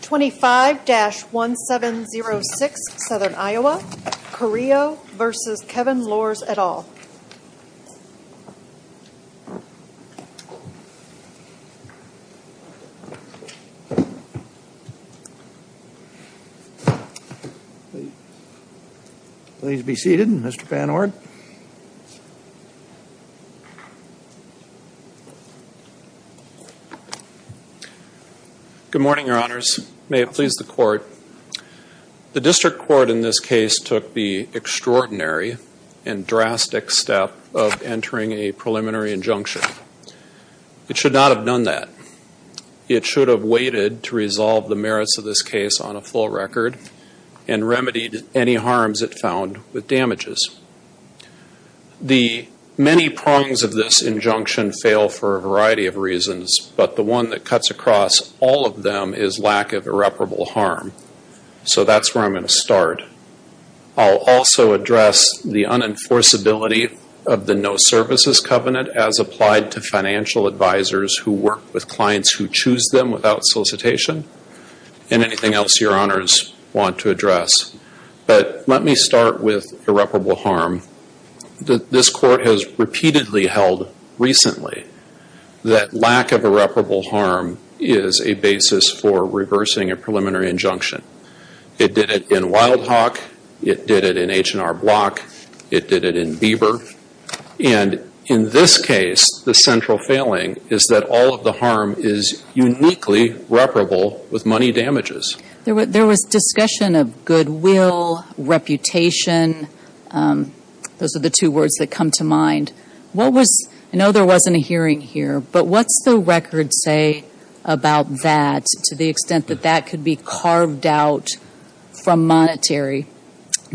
25-1706 Southern Iowa, Choreo v. Kevin Lors, et al. Please be seated, Mr. Van Orn. Good morning, Your Honors. May it please the Court. The District Court in this case took the extraordinary and drastic step of entering a preliminary injunction. It should not have done that. It should have waited to resolve the merits of this case on a full record and remedied any harms it found with damages. The many prongs of this injunction fail for a variety of reasons, but the one that cuts across all of them is lack of irreparable harm. So that's where I'm going to start. I'll also address the unenforceability of the No Services Covenant as applied to financial advisors who work with clients who choose them without solicitation and anything else Your Honors want to address. But let me start with irreparable harm. This Court has repeatedly held recently that lack of irreparable harm is a basis for reversing a preliminary injunction. It did it in Wild Hawk. It did it in H&R Block. It did it in Bieber. And in this case, the central failing is that all of the harm is uniquely reparable with money damages. There was discussion of goodwill, reputation. Those are the two words that come to mind. I know there wasn't a hearing here, but what's the record say about that to the extent that that could be carved out from monetary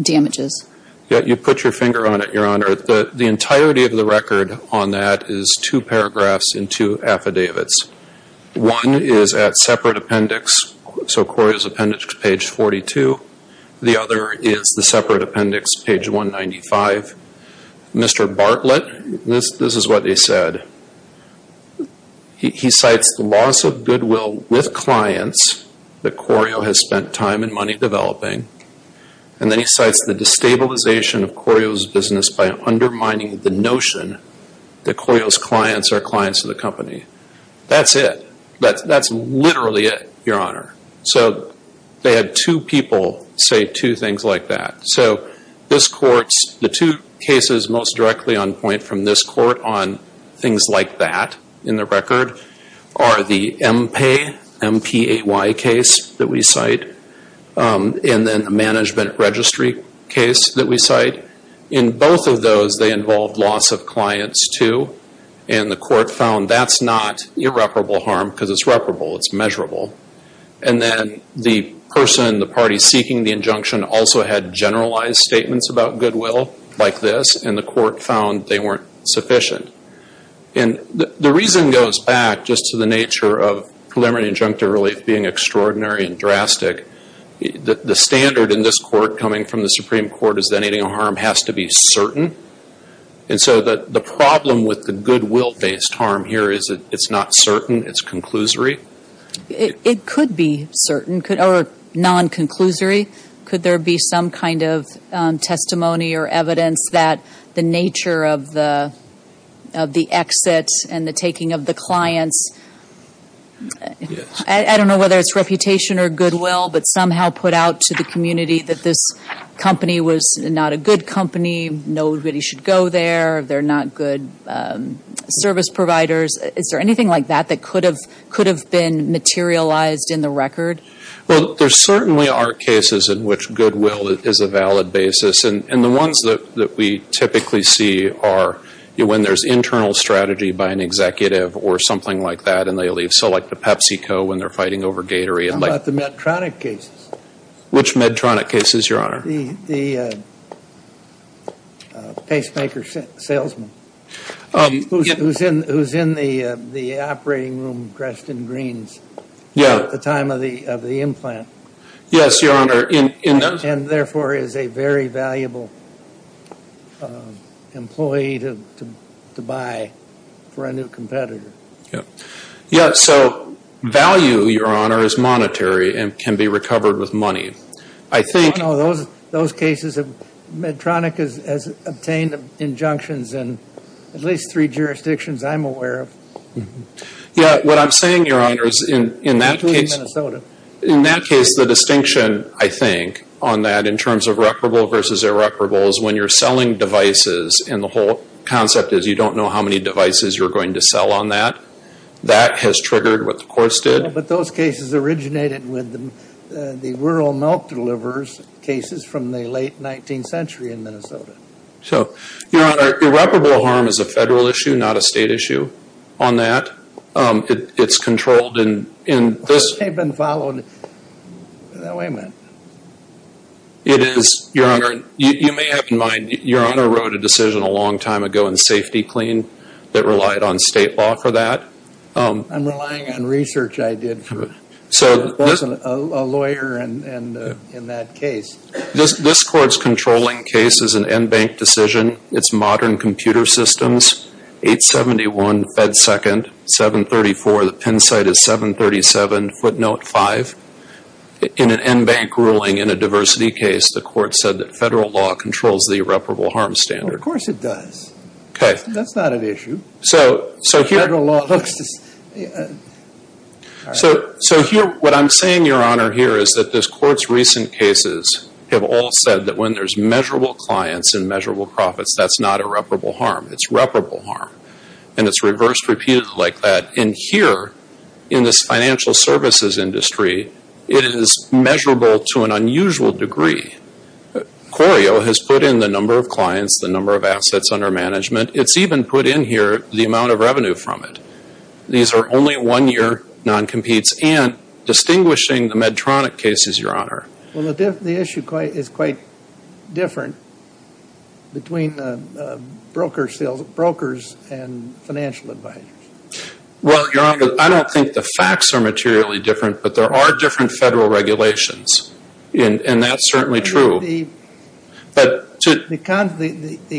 damages? You put your finger on it, Your Honor. The entirety of the record on that is two paragraphs and two affidavits. One is at separate appendix, so Corio's appendix, page 42. The other is the separate appendix, page 195. Mr. Bartlett, this is what he said. He cites the loss of goodwill with clients that Corio has spent time and money developing. And then he cites the destabilization of Corio's business by undermining the notion that Corio's clients are clients of the company. That's it. That's literally it, Your Honor. They had two people say two things like that. The two cases most directly on point from this court on things like that in the record are the MPAY case that we cite and then the management registry case that we cite. In both of those, they involved loss of clients, too, and the court found that's not irreparable harm because it's reparable. It's measurable. And then the person, the party seeking the injunction, also had generalized statements about goodwill like this, and the court found they weren't sufficient. And the reason goes back just to the nature of preliminary injunctive relief being extraordinary and drastic. The standard in this court coming from the Supreme Court is that anything of harm has to be certain. And so the problem with the goodwill-based harm here is it's not certain. It's conclusory. It could be certain or non-conclusory. Could there be some kind of testimony or evidence that the nature of the exit and the taking of the clients, I don't know whether it's reputation or goodwill, but somehow put out to the community that this company was not a good company, nobody should go there, they're not good service providers. Is there anything like that that could have been materialized in the record? Well, there certainly are cases in which goodwill is a valid basis. And the ones that we typically see are when there's internal strategy by an executive or something like that and they leave. So like the PepsiCo when they're fighting over Gatorade. How about the Medtronic cases? Which Medtronic cases, Your Honor? The pacemaker salesman who's in the operating room, Dresden Greens, at the time of the implant. Yes, Your Honor. And therefore is a very valuable employee to buy for a new competitor. Yes, so value, Your Honor, is monetary and can be recovered with money. I know, those cases, Medtronic has obtained injunctions in at least three jurisdictions I'm aware of. Yes, what I'm saying, Your Honor, is in that case the distinction, I think, on that in terms of reputable versus irreparable is when you're selling devices and the whole concept is you don't know how many devices you're going to sell on that. That has triggered what the courts did. But those cases originated with the rural milk deliverers cases from the late 19th century in Minnesota. So, Your Honor, irreparable harm is a federal issue, not a state issue on that. It's controlled in this. They've been followed. Now, wait a minute. It is, Your Honor, you may have in mind, Your Honor wrote a decision a long time ago in safety clean that relied on state law for that. I'm relying on research I did for both a lawyer and in that case. This court's controlling case is an NBank decision. It's modern computer systems, 871 Fed Second, 734. The pen site is 737 footnote 5. In an NBank ruling in a diversity case, the court said that federal law controls the irreparable harm standard. Of course it does. Okay. That's not an issue. So here what I'm saying, Your Honor, here is that this court's recent cases have all said that when there's measurable clients and measurable profits, that's not irreparable harm. It's reputable harm. And it's reversed repeatedly like that. And here in this financial services industry, it is measurable to an unusual degree. Corio has put in the number of clients, the number of assets under management. It's even put in here the amount of revenue from it. These are only one-year non-competes. And distinguishing the Medtronic cases, Your Honor. Well, the issue is quite different between brokers and financial advisors. Well, Your Honor, I don't think the facts are materially different, but there are different federal regulations. And that's certainly true. The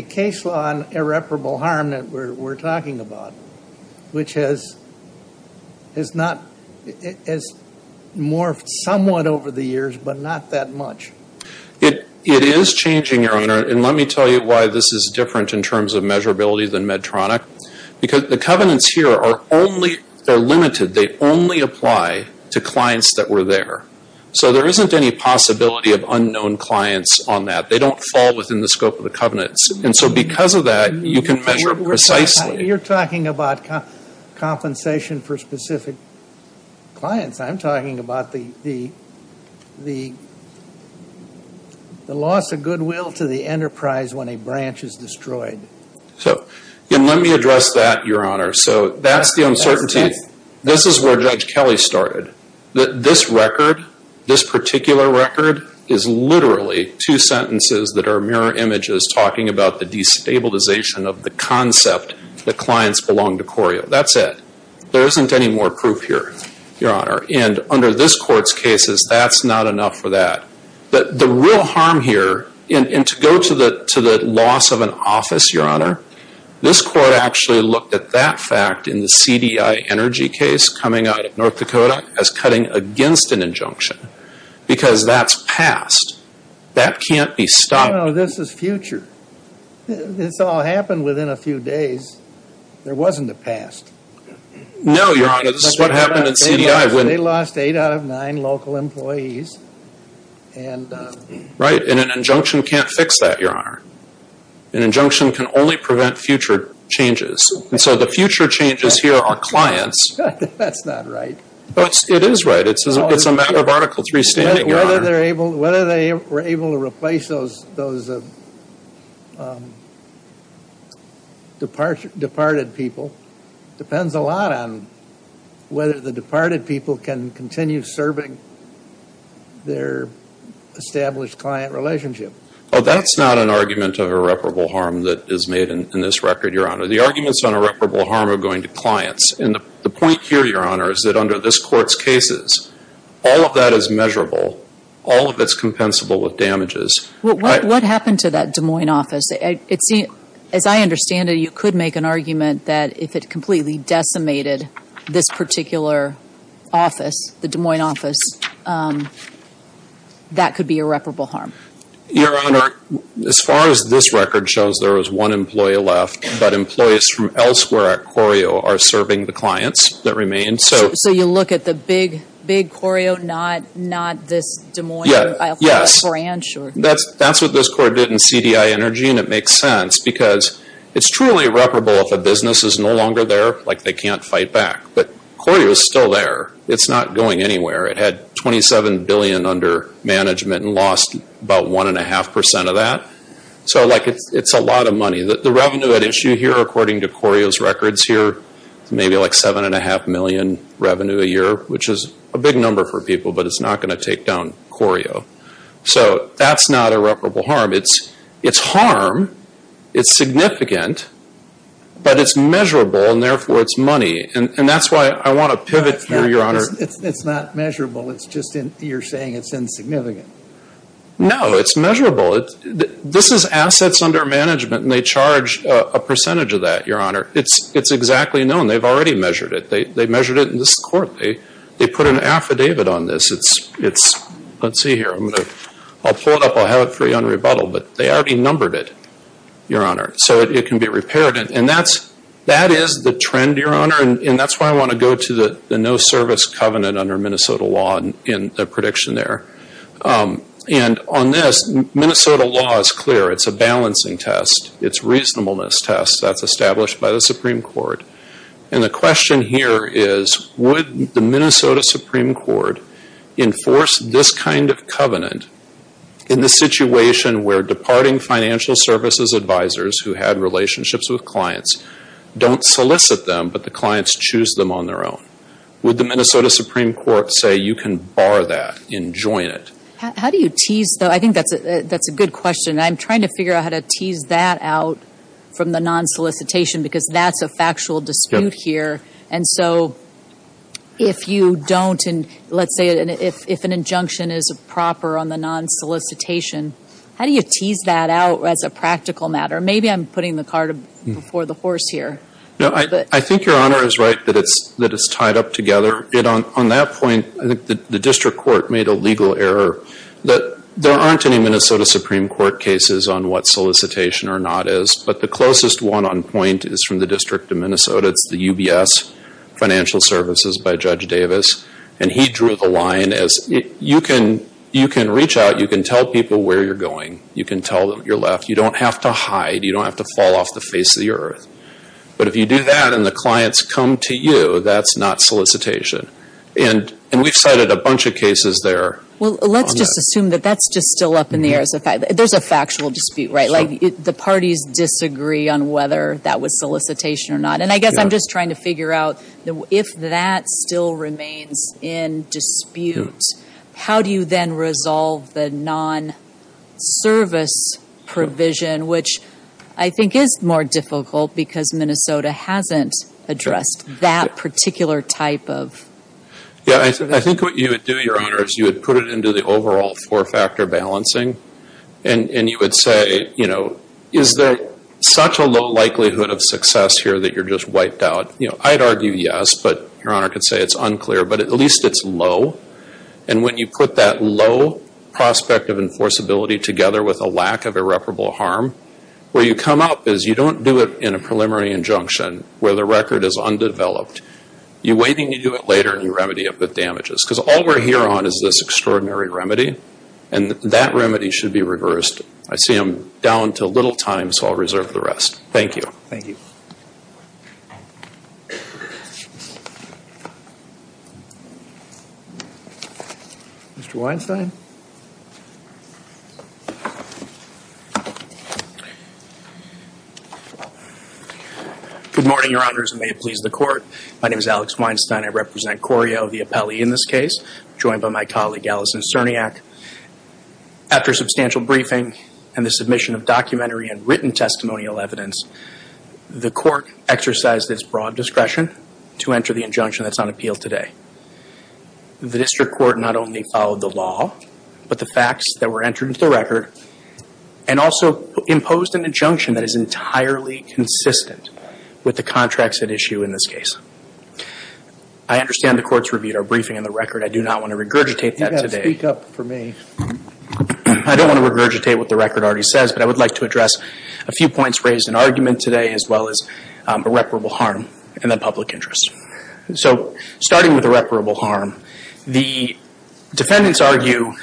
case law on irreparable harm that we're talking about, which has morphed somewhat over the years, but not that much. It is changing, Your Honor. And let me tell you why this is different in terms of measurability than Medtronic. Because the covenants here are limited. They only apply to clients that were there. So there isn't any possibility of unknown clients on that. They don't fall within the scope of the covenants. And so because of that, you can measure precisely. You're talking about compensation for specific clients. I'm talking about the loss of goodwill to the enterprise when a branch is destroyed. And let me address that, Your Honor. So that's the uncertainty. This is where Judge Kelly started. This record, this particular record, is literally two sentences that are mirror images talking about the destabilization of the concept that clients belong to Corio. That's it. There isn't any more proof here, Your Honor. And under this Court's cases, that's not enough for that. The real harm here, and to go to the loss of an office, Your Honor, this Court actually looked at that fact in the CDI energy case coming out of North Dakota as cutting against an injunction. Because that's past. That can't be stopped. No, this is future. This all happened within a few days. There wasn't a past. No, Your Honor. This is what happened in CDI. They lost eight out of nine local employees. Right, and an injunction can't fix that, Your Honor. An injunction can only prevent future changes. And so the future changes here are clients. That's not right. It is right. It's a matter of Article 3 standing, Your Honor. Whether they were able to replace those departed people depends a lot on whether the departed people can continue serving their established client relationship. Oh, that's not an argument of irreparable harm that is made in this record, Your Honor. The arguments on irreparable harm are going to clients. And the point here, Your Honor, is that under this Court's cases, all of that is measurable. All of it is compensable with damages. What happened to that Des Moines office? As I understand it, you could make an argument that if it completely decimated this particular office, the Des Moines office, that could be irreparable harm. Your Honor, as far as this record shows, there was one employee left. But employees from elsewhere at Corio are serving the clients that remain. So you look at the big Corio, not this Des Moines branch? That's what this Court did in CDI Energy, and it makes sense. Because it's truly irreparable if a business is no longer there, like they can't fight back. But Corio is still there. It's not going anywhere. It had $27 billion under management and lost about 1.5% of that. So it's a lot of money. The revenue at issue here, according to Corio's records here, is maybe like $7.5 million revenue a year, which is a big number for people, but it's not going to take down Corio. So that's not irreparable harm. It's harm. It's significant. But it's measurable, and therefore it's money. And that's why I want to pivot here, Your Honor. It's not measurable. You're saying it's insignificant. No, it's measurable. This is assets under management, and they charge a percentage of that, Your Honor. It's exactly known. They've already measured it. They measured it in this Court. They put an affidavit on this. Let's see here. I'll pull it up. I'll have it for you on rebuttal. But they already numbered it, Your Honor, so it can be repaired. And that is the trend, Your Honor, and that's why I want to go to the no-service covenant under Minnesota law in the prediction there. And on this, Minnesota law is clear. It's a balancing test. It's reasonableness test. That's established by the Supreme Court. And the question here is, would the Minnesota Supreme Court enforce this kind of covenant in the situation where departing financial services advisors who had relationships with clients don't solicit them, but the clients choose them on their own? Would the Minnesota Supreme Court say, you can bar that and join it? How do you tease that? I think that's a good question. I'm trying to figure out how to tease that out from the non-solicitation because that's a factual dispute here. And so if you don't, and let's say if an injunction is proper on the non-solicitation, how do you tease that out as a practical matter? Maybe I'm putting the cart before the horse here. No, I think Your Honor is right that it's tied up together. On that point, I think the district court made a legal error. There aren't any Minnesota Supreme Court cases on what solicitation or not is, but the closest one on point is from the District of Minnesota. It's the UBS Financial Services by Judge Davis, and he drew the line as you can reach out, you can tell people where you're going, you can tell your left, you don't have to hide, you don't have to fall off the face of the earth. But if you do that and the clients come to you, that's not solicitation. And we've cited a bunch of cases there. Well, let's just assume that that's just still up in the air. There's a factual dispute, right? Like the parties disagree on whether that was solicitation or not. And I guess I'm just trying to figure out if that still remains in dispute, how do you then resolve the non-service provision, which I think is more difficult because Minnesota hasn't addressed that particular type of... Yeah, I think what you would do, Your Honor, is you would put it into the overall four-factor balancing, and you would say, you know, is there such a low likelihood of success here that you're just wiped out? I'd argue yes, but Your Honor could say it's unclear, but at least it's low. And when you put that low prospect of enforceability together with a lack of irreparable harm, where you come up is you don't do it in a preliminary injunction where the record is undeveloped. You wait until you do it later and you remedy it with damages. Because all we're here on is this extraordinary remedy, and that remedy should be reversed. I see I'm down to little time, so I'll reserve the rest. Thank you. Thank you. Mr. Weinstein. Good morning, Your Honors, and may it please the Court. My name is Alex Weinstein. I represent Corio of the appellee in this case, joined by my colleague, Allison Cerniak. After a substantial briefing and the submission of documentary and written testimonial evidence, the Court exercised its broad discretion to enter the injunction that's on appeal today. The District Court not only followed the law, but the facts that were entered into the record, and also imposed an injunction that is entirely consistent with the contracts at issue in this case. I understand the Court's reviewed our briefing and the record. I do not want to regurgitate that today. You've got to speak up for me. I don't want to regurgitate what the record already says, but I would like to address a few points raised in argument today, as well as irreparable harm in the public interest. So starting with irreparable harm, the defendants argue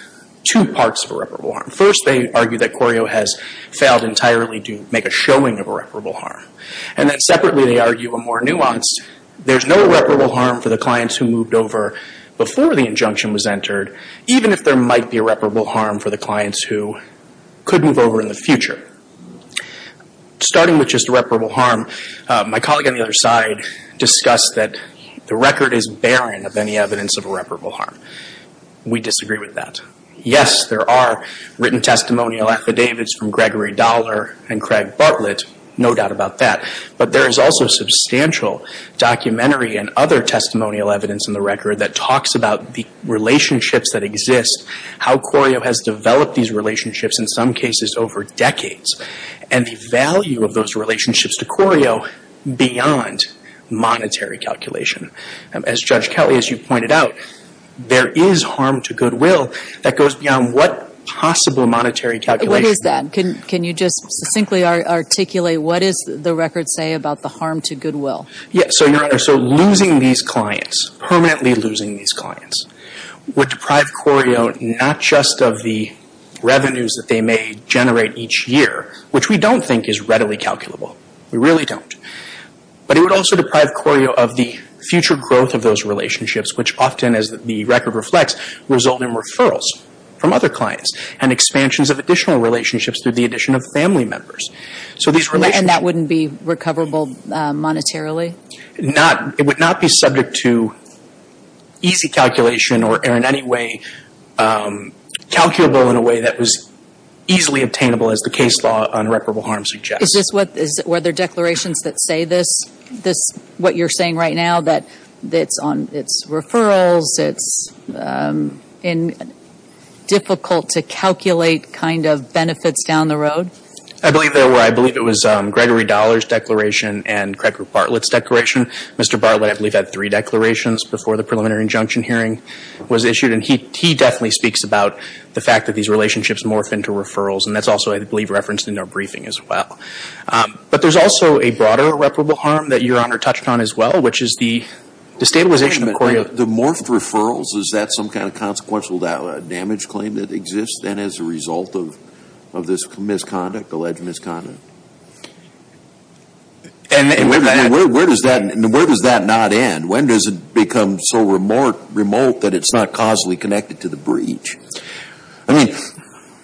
two parts of irreparable harm. First, they argue that Corio has failed entirely to make a showing of irreparable harm. And then separately, they argue a more nuanced, there's no irreparable harm for the clients who moved over before the injunction was entered, even if there might be irreparable harm for the clients who could move over in the future. Starting with just irreparable harm, my colleague on the other side discussed that the record is barren of any evidence of irreparable harm. We disagree with that. Yes, there are written testimonial affidavits from Gregory Dollar and Craig Bartlett, no doubt about that. But there is also substantial documentary and other testimonial evidence in the record that talks about the relationships that exist, how Corio has developed these relationships, in some cases over decades, and the value of those relationships to Corio beyond monetary calculation. As Judge Kelly, as you pointed out, there is harm to goodwill that goes beyond what possible monetary calculation... Can you just succinctly articulate what does the record say about the harm to goodwill? Yes. So, Your Honor, so losing these clients, permanently losing these clients, would deprive Corio not just of the revenues that they may generate each year, which we don't think is readily calculable. We really don't. But it would also deprive Corio of the future growth of those relationships, which often, as the record reflects, result in referrals from other clients and expansions of additional relationships through the addition of family members. And that wouldn't be recoverable monetarily? It would not be subject to easy calculation or in any way calculable in a way that was easily obtainable, as the case law on irreparable harm suggests. Were there declarations that say this, what you're saying right now, that it's referrals, it's difficult to calculate kind of benefits down the road? I believe there were. I believe it was Gregory Dollar's declaration and Craig Bartlett's declaration. Mr. Bartlett, I believe, had three declarations before the preliminary injunction hearing was issued, and he definitely speaks about the fact that these relationships morph into referrals, and that's also, I believe, referenced in their briefing as well. But there's also a broader irreparable harm that Your Honor touched on as well, which is the destabilization of Corio. The morphed referrals, is that some kind of consequential damage claim that exists then as a result of this misconduct, alleged misconduct? And where does that not end? When does it become so remote that it's not causally connected to the breach? I mean,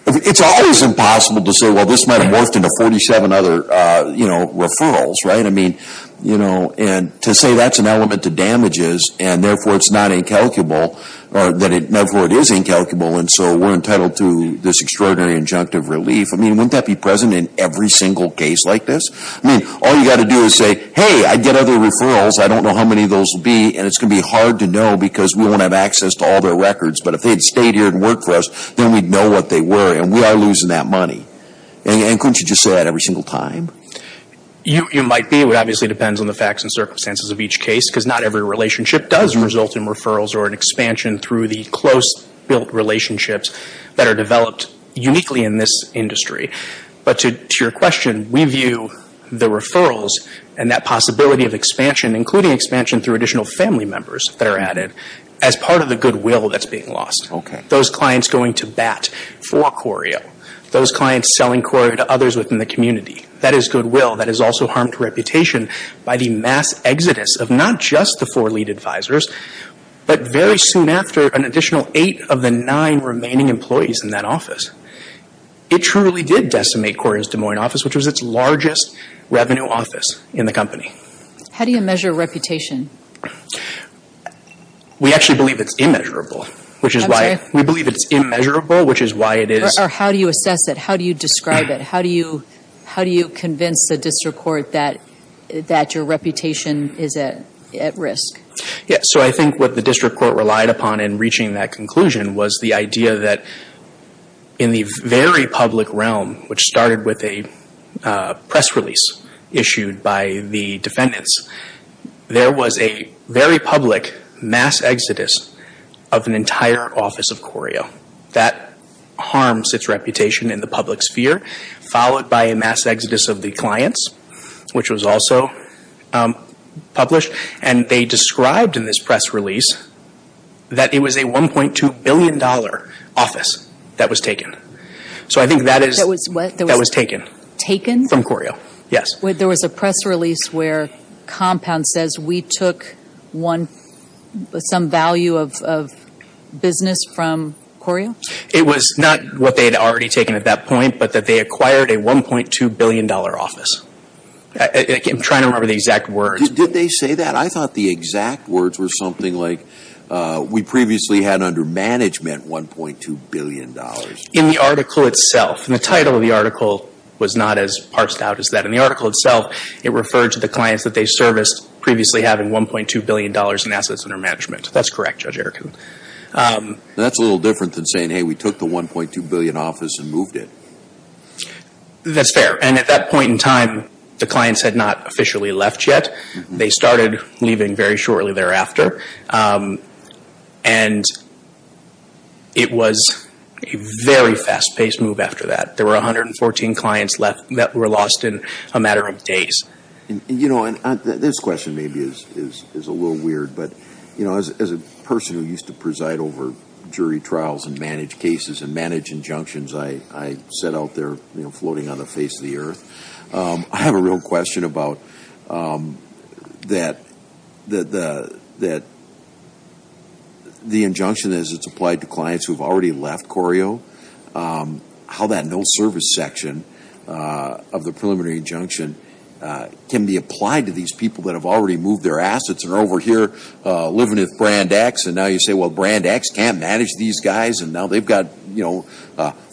it's always impossible to say, well, this might have morphed into 47 other referrals, right? I mean, you know, and to say that's an element to damages and therefore it's not incalculable, or therefore it is incalculable, and so we're entitled to this extraordinary injunctive relief, I mean, wouldn't that be present in every single case like this? I mean, all you've got to do is say, hey, I get other referrals, I don't know how many of those will be, and it's going to be hard to know because we won't have access to all their records, but if they had stayed here and worked for us, then we'd know what they were, and we are losing that money. And couldn't you just say that every single time? You might be. It obviously depends on the facts and circumstances of each case, because not every relationship does result in referrals or an expansion through the close-built relationships that are developed uniquely in this industry. But to your question, we view the referrals and that possibility of expansion, including expansion through additional family members that are added, as part of the goodwill that's being lost. Okay. Those clients going to bat for Corio, those clients selling Corio to others within the community, that is goodwill. That is also harmed reputation by the mass exodus of not just the four lead advisors, but very soon after, an additional eight of the nine remaining employees in that office. It truly did decimate Corio's Des Moines office, which was its largest revenue office in the company. How do you measure reputation? We actually believe it's immeasurable. I'm sorry? We believe it's immeasurable, which is why it is. Or how do you assess it? How do you describe it? How do you convince the district court that your reputation is at risk? I think what the district court relied upon in reaching that conclusion was the idea that in the very public realm, which started with a press release issued by the defendants, there was a very public mass exodus of an entire office of Corio. That harms its reputation in the public sphere, followed by a mass exodus of the clients, which was also published. They described in this press release that it was a $1.2 billion office that was taken. That was what? That was taken. Taken? From Corio, yes. There was a press release where Compound says, we took some value of business from Corio? It was not what they had already taken at that point, but that they acquired a $1.2 billion office. I'm trying to remember the exact words. Did they say that? I thought the exact words were something like, we previously had under management $1.2 billion. In the article itself. The title of the article was not as parsed out as that. In the article itself, it referred to the clients that they serviced previously having $1.2 billion in assets under management. That's correct, Judge Erickson. That's a little different than saying, hey, we took the $1.2 billion office and moved it. That's fair. And at that point in time, the clients had not officially left yet. They started leaving very shortly thereafter. And it was a very fast-paced move after that. There were 114 clients that were lost in a matter of days. This question maybe is a little weird, but as a person who used to preside over jury trials and manage cases and manage injunctions I set out there floating on the face of the earth, I have a real question about that the injunction, as it's applied to clients who have already left Corio, how that no-service section of the preliminary injunction can be applied to these people that have already moved their assets and are over here living with Brand X, and now you say, well, Brand X can't manage these guys, and now they've got, you know,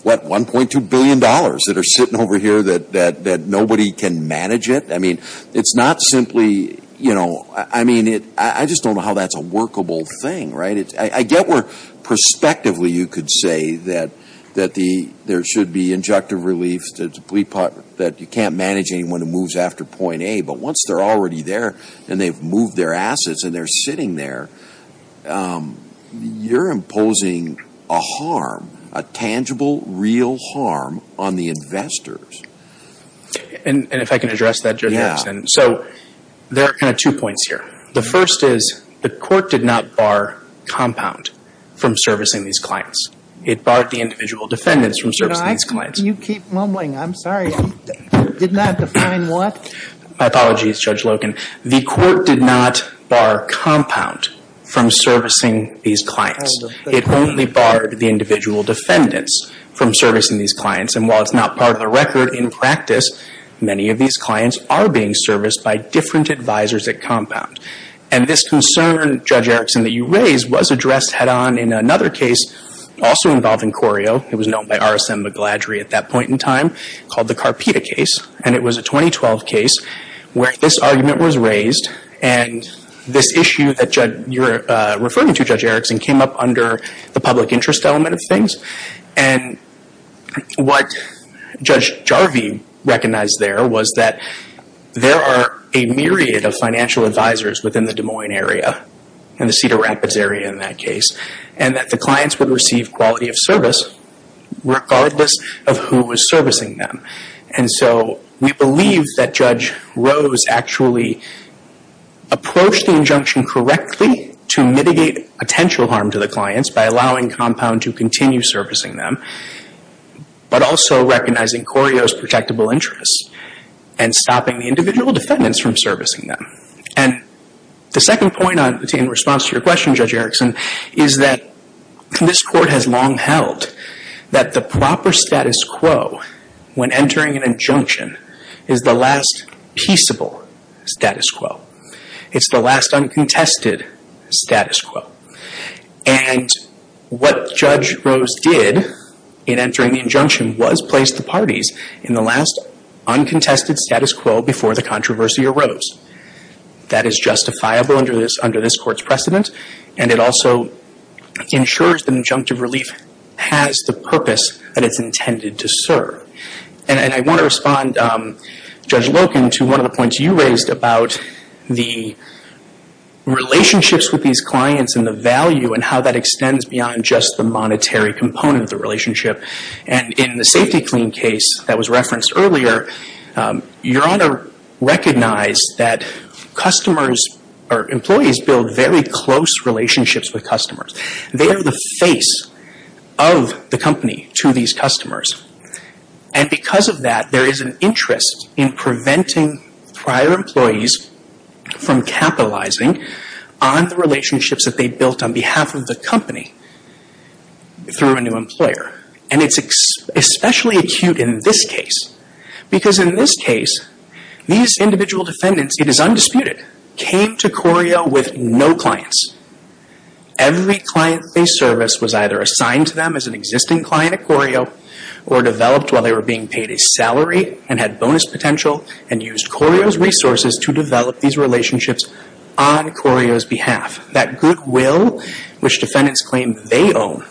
what, $1.2 billion that are sitting over here that nobody can manage it? I mean, it's not simply, you know, I mean, I just don't know how that's a workable thing, right? I get where prospectively you could say that there should be injunctive relief, that you can't manage anyone who moves after point A, but once they're already there and they've moved their assets and they're sitting there, you're imposing a harm, a tangible real harm on the investors. And if I can address that, Judge Anderson. Yeah. So there are kind of two points here. The first is the court did not bar compound from servicing these clients. It barred the individual defendants from servicing these clients. You keep mumbling. I'm sorry. Did not define what? My apologies, Judge Loken. The court did not bar compound from servicing these clients. It only barred the individual defendants from servicing these clients, and while it's not part of the record in practice, many of these clients are being serviced by different advisors at compound. And this concern, Judge Erickson, that you raised was addressed head-on in another case, also involved in Corio. It was known by R.S.M. Magladry at that point in time called the Carpita case, and it was a 2012 case where this argument was raised and this issue that you're referring to, Judge Erickson, came up under the public interest element of things. And what Judge Jarvie recognized there was that there are a myriad of financial advisors within the Des Moines area and the Cedar Rapids area in that case, and that the clients would receive quality of service regardless of who was servicing them. And so we believe that Judge Rose actually approached the injunction correctly to mitigate potential harm to the clients by allowing compound to continue servicing them, but also recognizing Corio's protectable interests and stopping the individual defendants from servicing them. And the second point in response to your question, Judge Erickson, is that this Court has long held that the proper status quo when entering an injunction is the last peaceable status quo. It's the last uncontested status quo. And what Judge Rose did in entering the injunction was place the parties in the last uncontested status quo before the controversy arose. That is justifiable under this Court's precedent, and it also ensures that injunctive relief has the purpose that it's intended to serve. And I want to respond, Judge Loken, to one of the points you raised about the relationships with these clients and the value and how that extends beyond just the monetary component of the relationship. And in the safety clean case that was referenced earlier, Your Honor recognized that customers, or employees, build very close relationships with customers. They are the face of the company to these customers. And because of that, there is an interest in preventing prior employees from capitalizing on the relationships that they built on behalf of the company through a new employer. And it's especially acute in this case, because in this case, these individual defendants, it is undisputed, came to Corio with no clients. Every client they serviced was either assigned to them as an existing client at Corio or developed while they were being paid a salary and had bonus potential and used Corio's resources to develop these relationships on Corio's behalf. That goodwill, which defendants claim they own,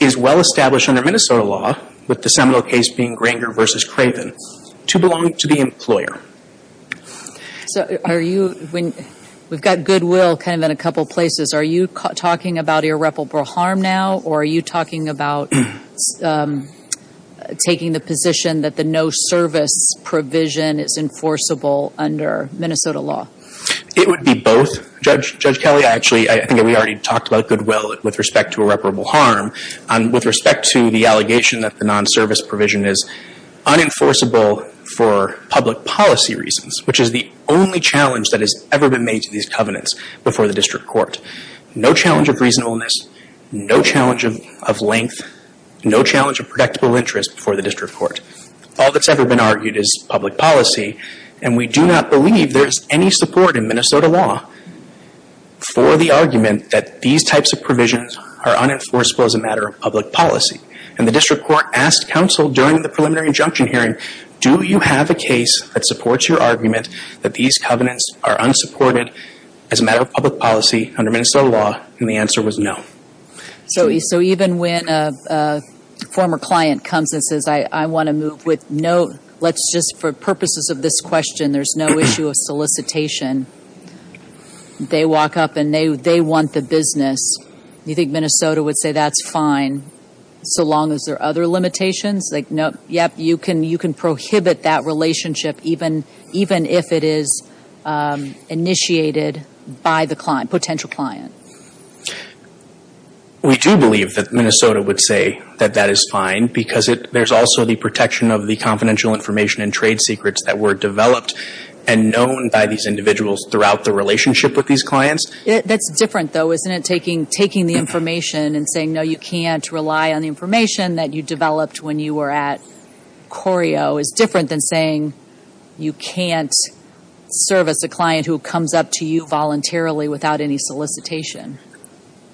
is well established under Minnesota law, with the seminal case being Granger v. Craven, to belong to the employer. So are you – we've got goodwill kind of in a couple places. Are you talking about irreparable harm now, or are you talking about taking the position that the no-service provision is enforceable under Minnesota law? It would be both, Judge Kelly. Actually, I think we already talked about goodwill with respect to irreparable harm. With respect to the allegation that the non-service provision is unenforceable for public policy reasons, which is the only challenge that has ever been made to these covenants before the district court. No challenge of reasonableness, no challenge of length, no challenge of predictable interest before the district court. All that's ever been argued is public policy, and we do not believe there's any support in Minnesota law for the argument that these types of provisions are unenforceable as a matter of public policy. And the district court asked counsel during the preliminary injunction hearing, do you have a case that supports your argument that these covenants are unsupported as a matter of public policy under Minnesota law? And the answer was no. So even when a former client comes and says, I want to move with no – let's just – for purposes of this question, there's no issue of solicitation. They walk up and they want the business. You think Minnesota would say that's fine, so long as there are other limitations? Like, yep, you can prohibit that relationship even if it is initiated by the potential client. We do believe that Minnesota would say that that is fine because there's also the protection of the confidential information and trade secrets that were developed and known by these individuals throughout the relationship with these clients. That's different, though, isn't it, taking the information and saying, you know, you can't rely on the information that you developed when you were at Corio is different than saying you can't service a client who comes up to you voluntarily without any solicitation.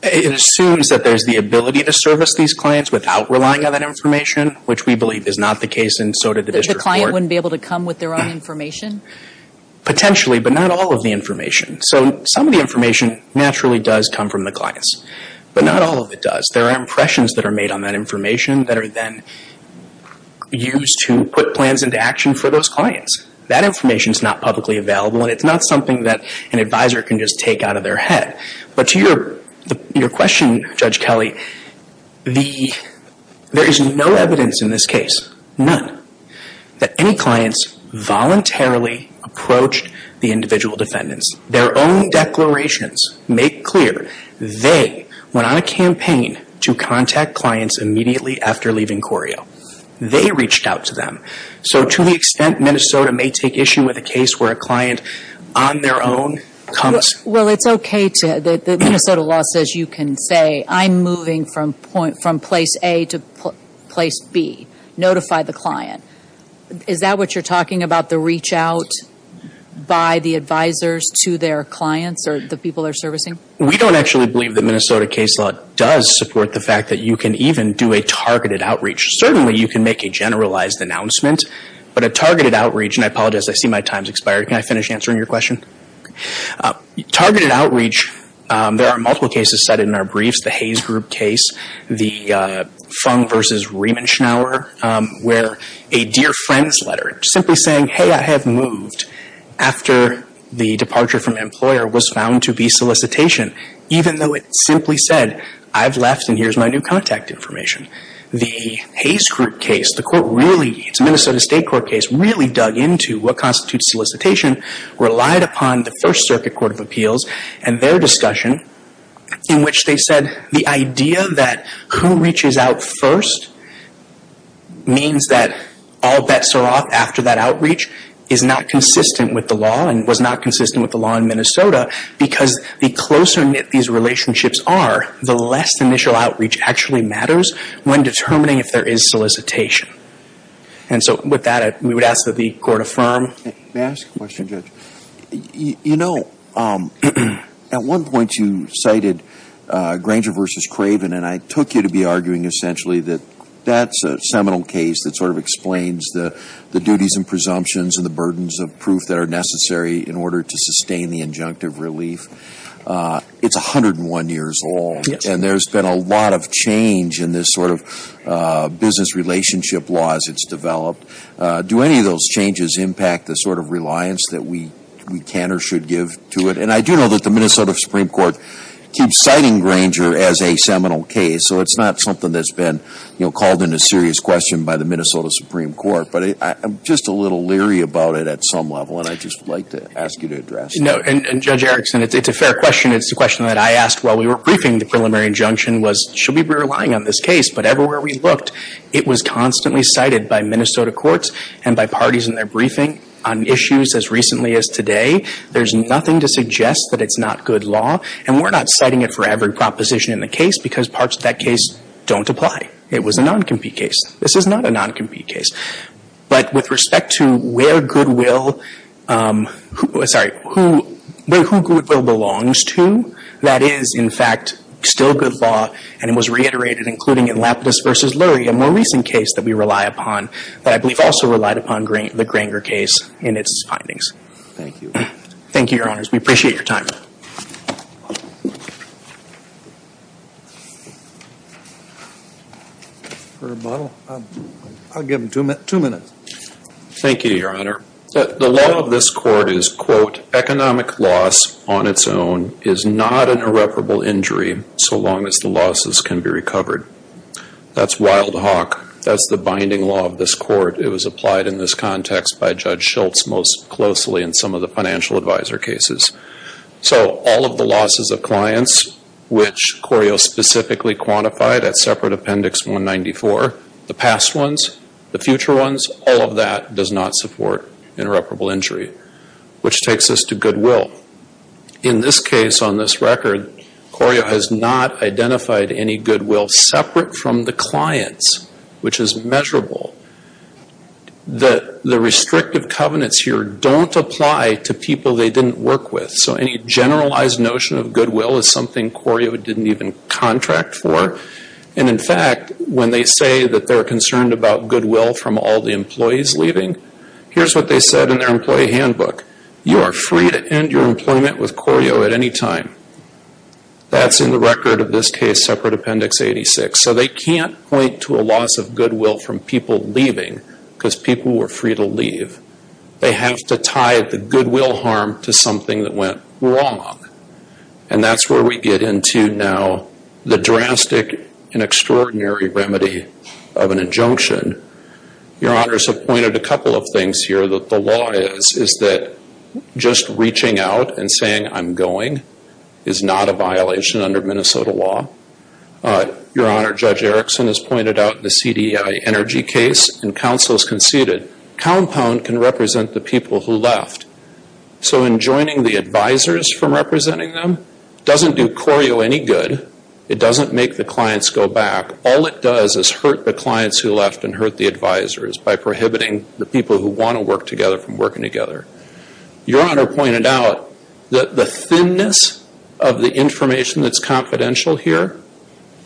It assumes that there's the ability to service these clients without relying on that information, which we believe is not the case, and so did the district court. That the client wouldn't be able to come with their own information? Potentially, but not all of the information. So some of the information naturally does come from the clients, but not all of it does. There are impressions that are made on that information that are then used to put plans into action for those clients. That information is not publicly available, and it's not something that an advisor can just take out of their head. But to your question, Judge Kelly, there is no evidence in this case, none, that any clients voluntarily approached the individual defendants. Their own declarations make clear they went on a campaign to contact clients immediately after leaving Corio. They reached out to them. So to the extent Minnesota may take issue with a case where a client on their own comes... Well, it's okay to, the Minnesota law says you can say, I'm moving from place A to place B, notify the client. Is that what you're talking about, the reach out by the advisors to their clients or the people they're servicing? We don't actually believe that Minnesota case law does support the fact that you can even do a targeted outreach. Certainly, you can make a generalized announcement, but a targeted outreach... And I apologize, I see my time's expired. Can I finish answering your question? Targeted outreach, there are multiple cases cited in our briefs. The Hays Group case, the Fung v. Riemenschnauer, where a dear friend's letter, simply saying, hey, I have moved, after the departure from an employer, was found to be solicitation, even though it simply said, I've left and here's my new contact information. The Hays Group case, the court really, it's a Minnesota state court case, really dug into what constitutes solicitation, relied upon the First Circuit Court of Appeals and their discussion, in which they said the idea that who reaches out first means that all bets are off after that outreach is not consistent with the law and was not consistent with the law in Minnesota, because the closer knit these relationships are, the less initial outreach actually matters when determining if there is solicitation. And so with that, we would ask that the court affirm. May I ask a question, Judge? You know, at one point you cited Granger v. Craven, and I took you to be arguing essentially that that's a seminal case that sort of explains the duties and presumptions and the burdens of proof that are necessary in order to sustain the injunctive relief. It's 101 years old, and there's been a lot of change in this sort of business relationship law as it's developed. Do any of those changes impact the sort of reliance that we can or should give to it? And I do know that the Minnesota Supreme Court keeps citing Granger as a seminal case, so it's not something that's been called into serious question by the Minnesota Supreme Court. But I'm just a little leery about it at some level, and I'd just like to ask you to address it. No, and Judge Erickson, it's a fair question. It's a question that I asked while we were briefing. The preliminary injunction was, should we be relying on this case? But everywhere we looked, it was constantly cited by Minnesota courts and by parties in their briefing on issues as recently as today. There's nothing to suggest that it's not good law, and we're not citing it for every proposition in the case because parts of that case don't apply. It was a non-compete case. This is not a non-compete case. But with respect to where Goodwill, sorry, who Goodwill belongs to, that is, in fact, still good law, and it was reiterated, including in Lapidus v. Lurie, a more recent case that we rely upon, that I believe also relied upon the Granger case in its findings. Thank you. Thank you, Your Honors. We appreciate your time. For rebuttal, I'll give him two minutes. Thank you, Your Honor. The law of this court is, quote, is not an irreparable injury so long as the losses can be recovered. That's wild hawk. That's the binding law of this court. It was applied in this context by Judge Schultz most closely in some of the financial advisor cases. So all of the losses of clients, which Corio specifically quantified at separate Appendix 194, the past ones, the future ones, all of that does not support an irreparable injury, which takes us to Goodwill. In this case, on this record, Corio has not identified any Goodwill separate from the clients, which is measurable. The restrictive covenants here don't apply to people they didn't work with. So any generalized notion of Goodwill is something Corio didn't even contract for. And, in fact, when they say that they're concerned about Goodwill from all the employees leaving, here's what they said in their employee handbook. You are free to end your employment with Corio at any time. That's in the record of this case, separate Appendix 86. So they can't point to a loss of Goodwill from people leaving because people were free to leave. They have to tie the Goodwill harm to something that went wrong. And that's where we get into now the drastic and extraordinary remedy of an injunction. Your Honors have pointed a couple of things here that the law is, is that just reaching out and saying, I'm going, is not a violation under Minnesota law. Your Honor, Judge Erickson has pointed out the CDI energy case, and counsel has conceded, compound can represent the people who left. So in joining the advisors from representing them doesn't do Corio any good. It doesn't make the clients go back. All it does is hurt the clients who left and hurt the advisors by prohibiting the people who want to work together from working together. Your Honor pointed out that the thinness of the information that's confidential here,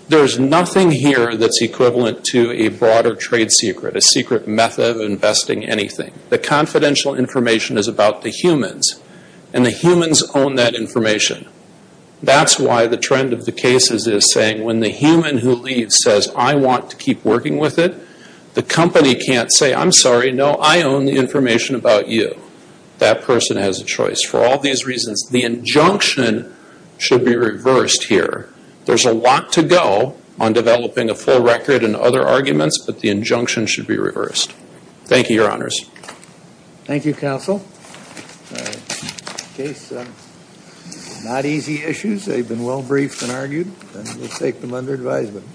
there's nothing here that's equivalent to a broader trade secret, a secret method of investing anything. The confidential information is about the humans, and the humans own that information. That's why the trend of the cases is saying when the human who leaves says, I want to keep working with it, the company can't say, I'm sorry, no, I own the information about you. That person has a choice. For all these reasons, the injunction should be reversed here. There's a lot to go on developing a full record and other arguments, but the injunction should be reversed. Thank you, Your Honors. Thank you, Counsel. These are not easy issues. They've been well briefed and argued, and we'll take them under advisement.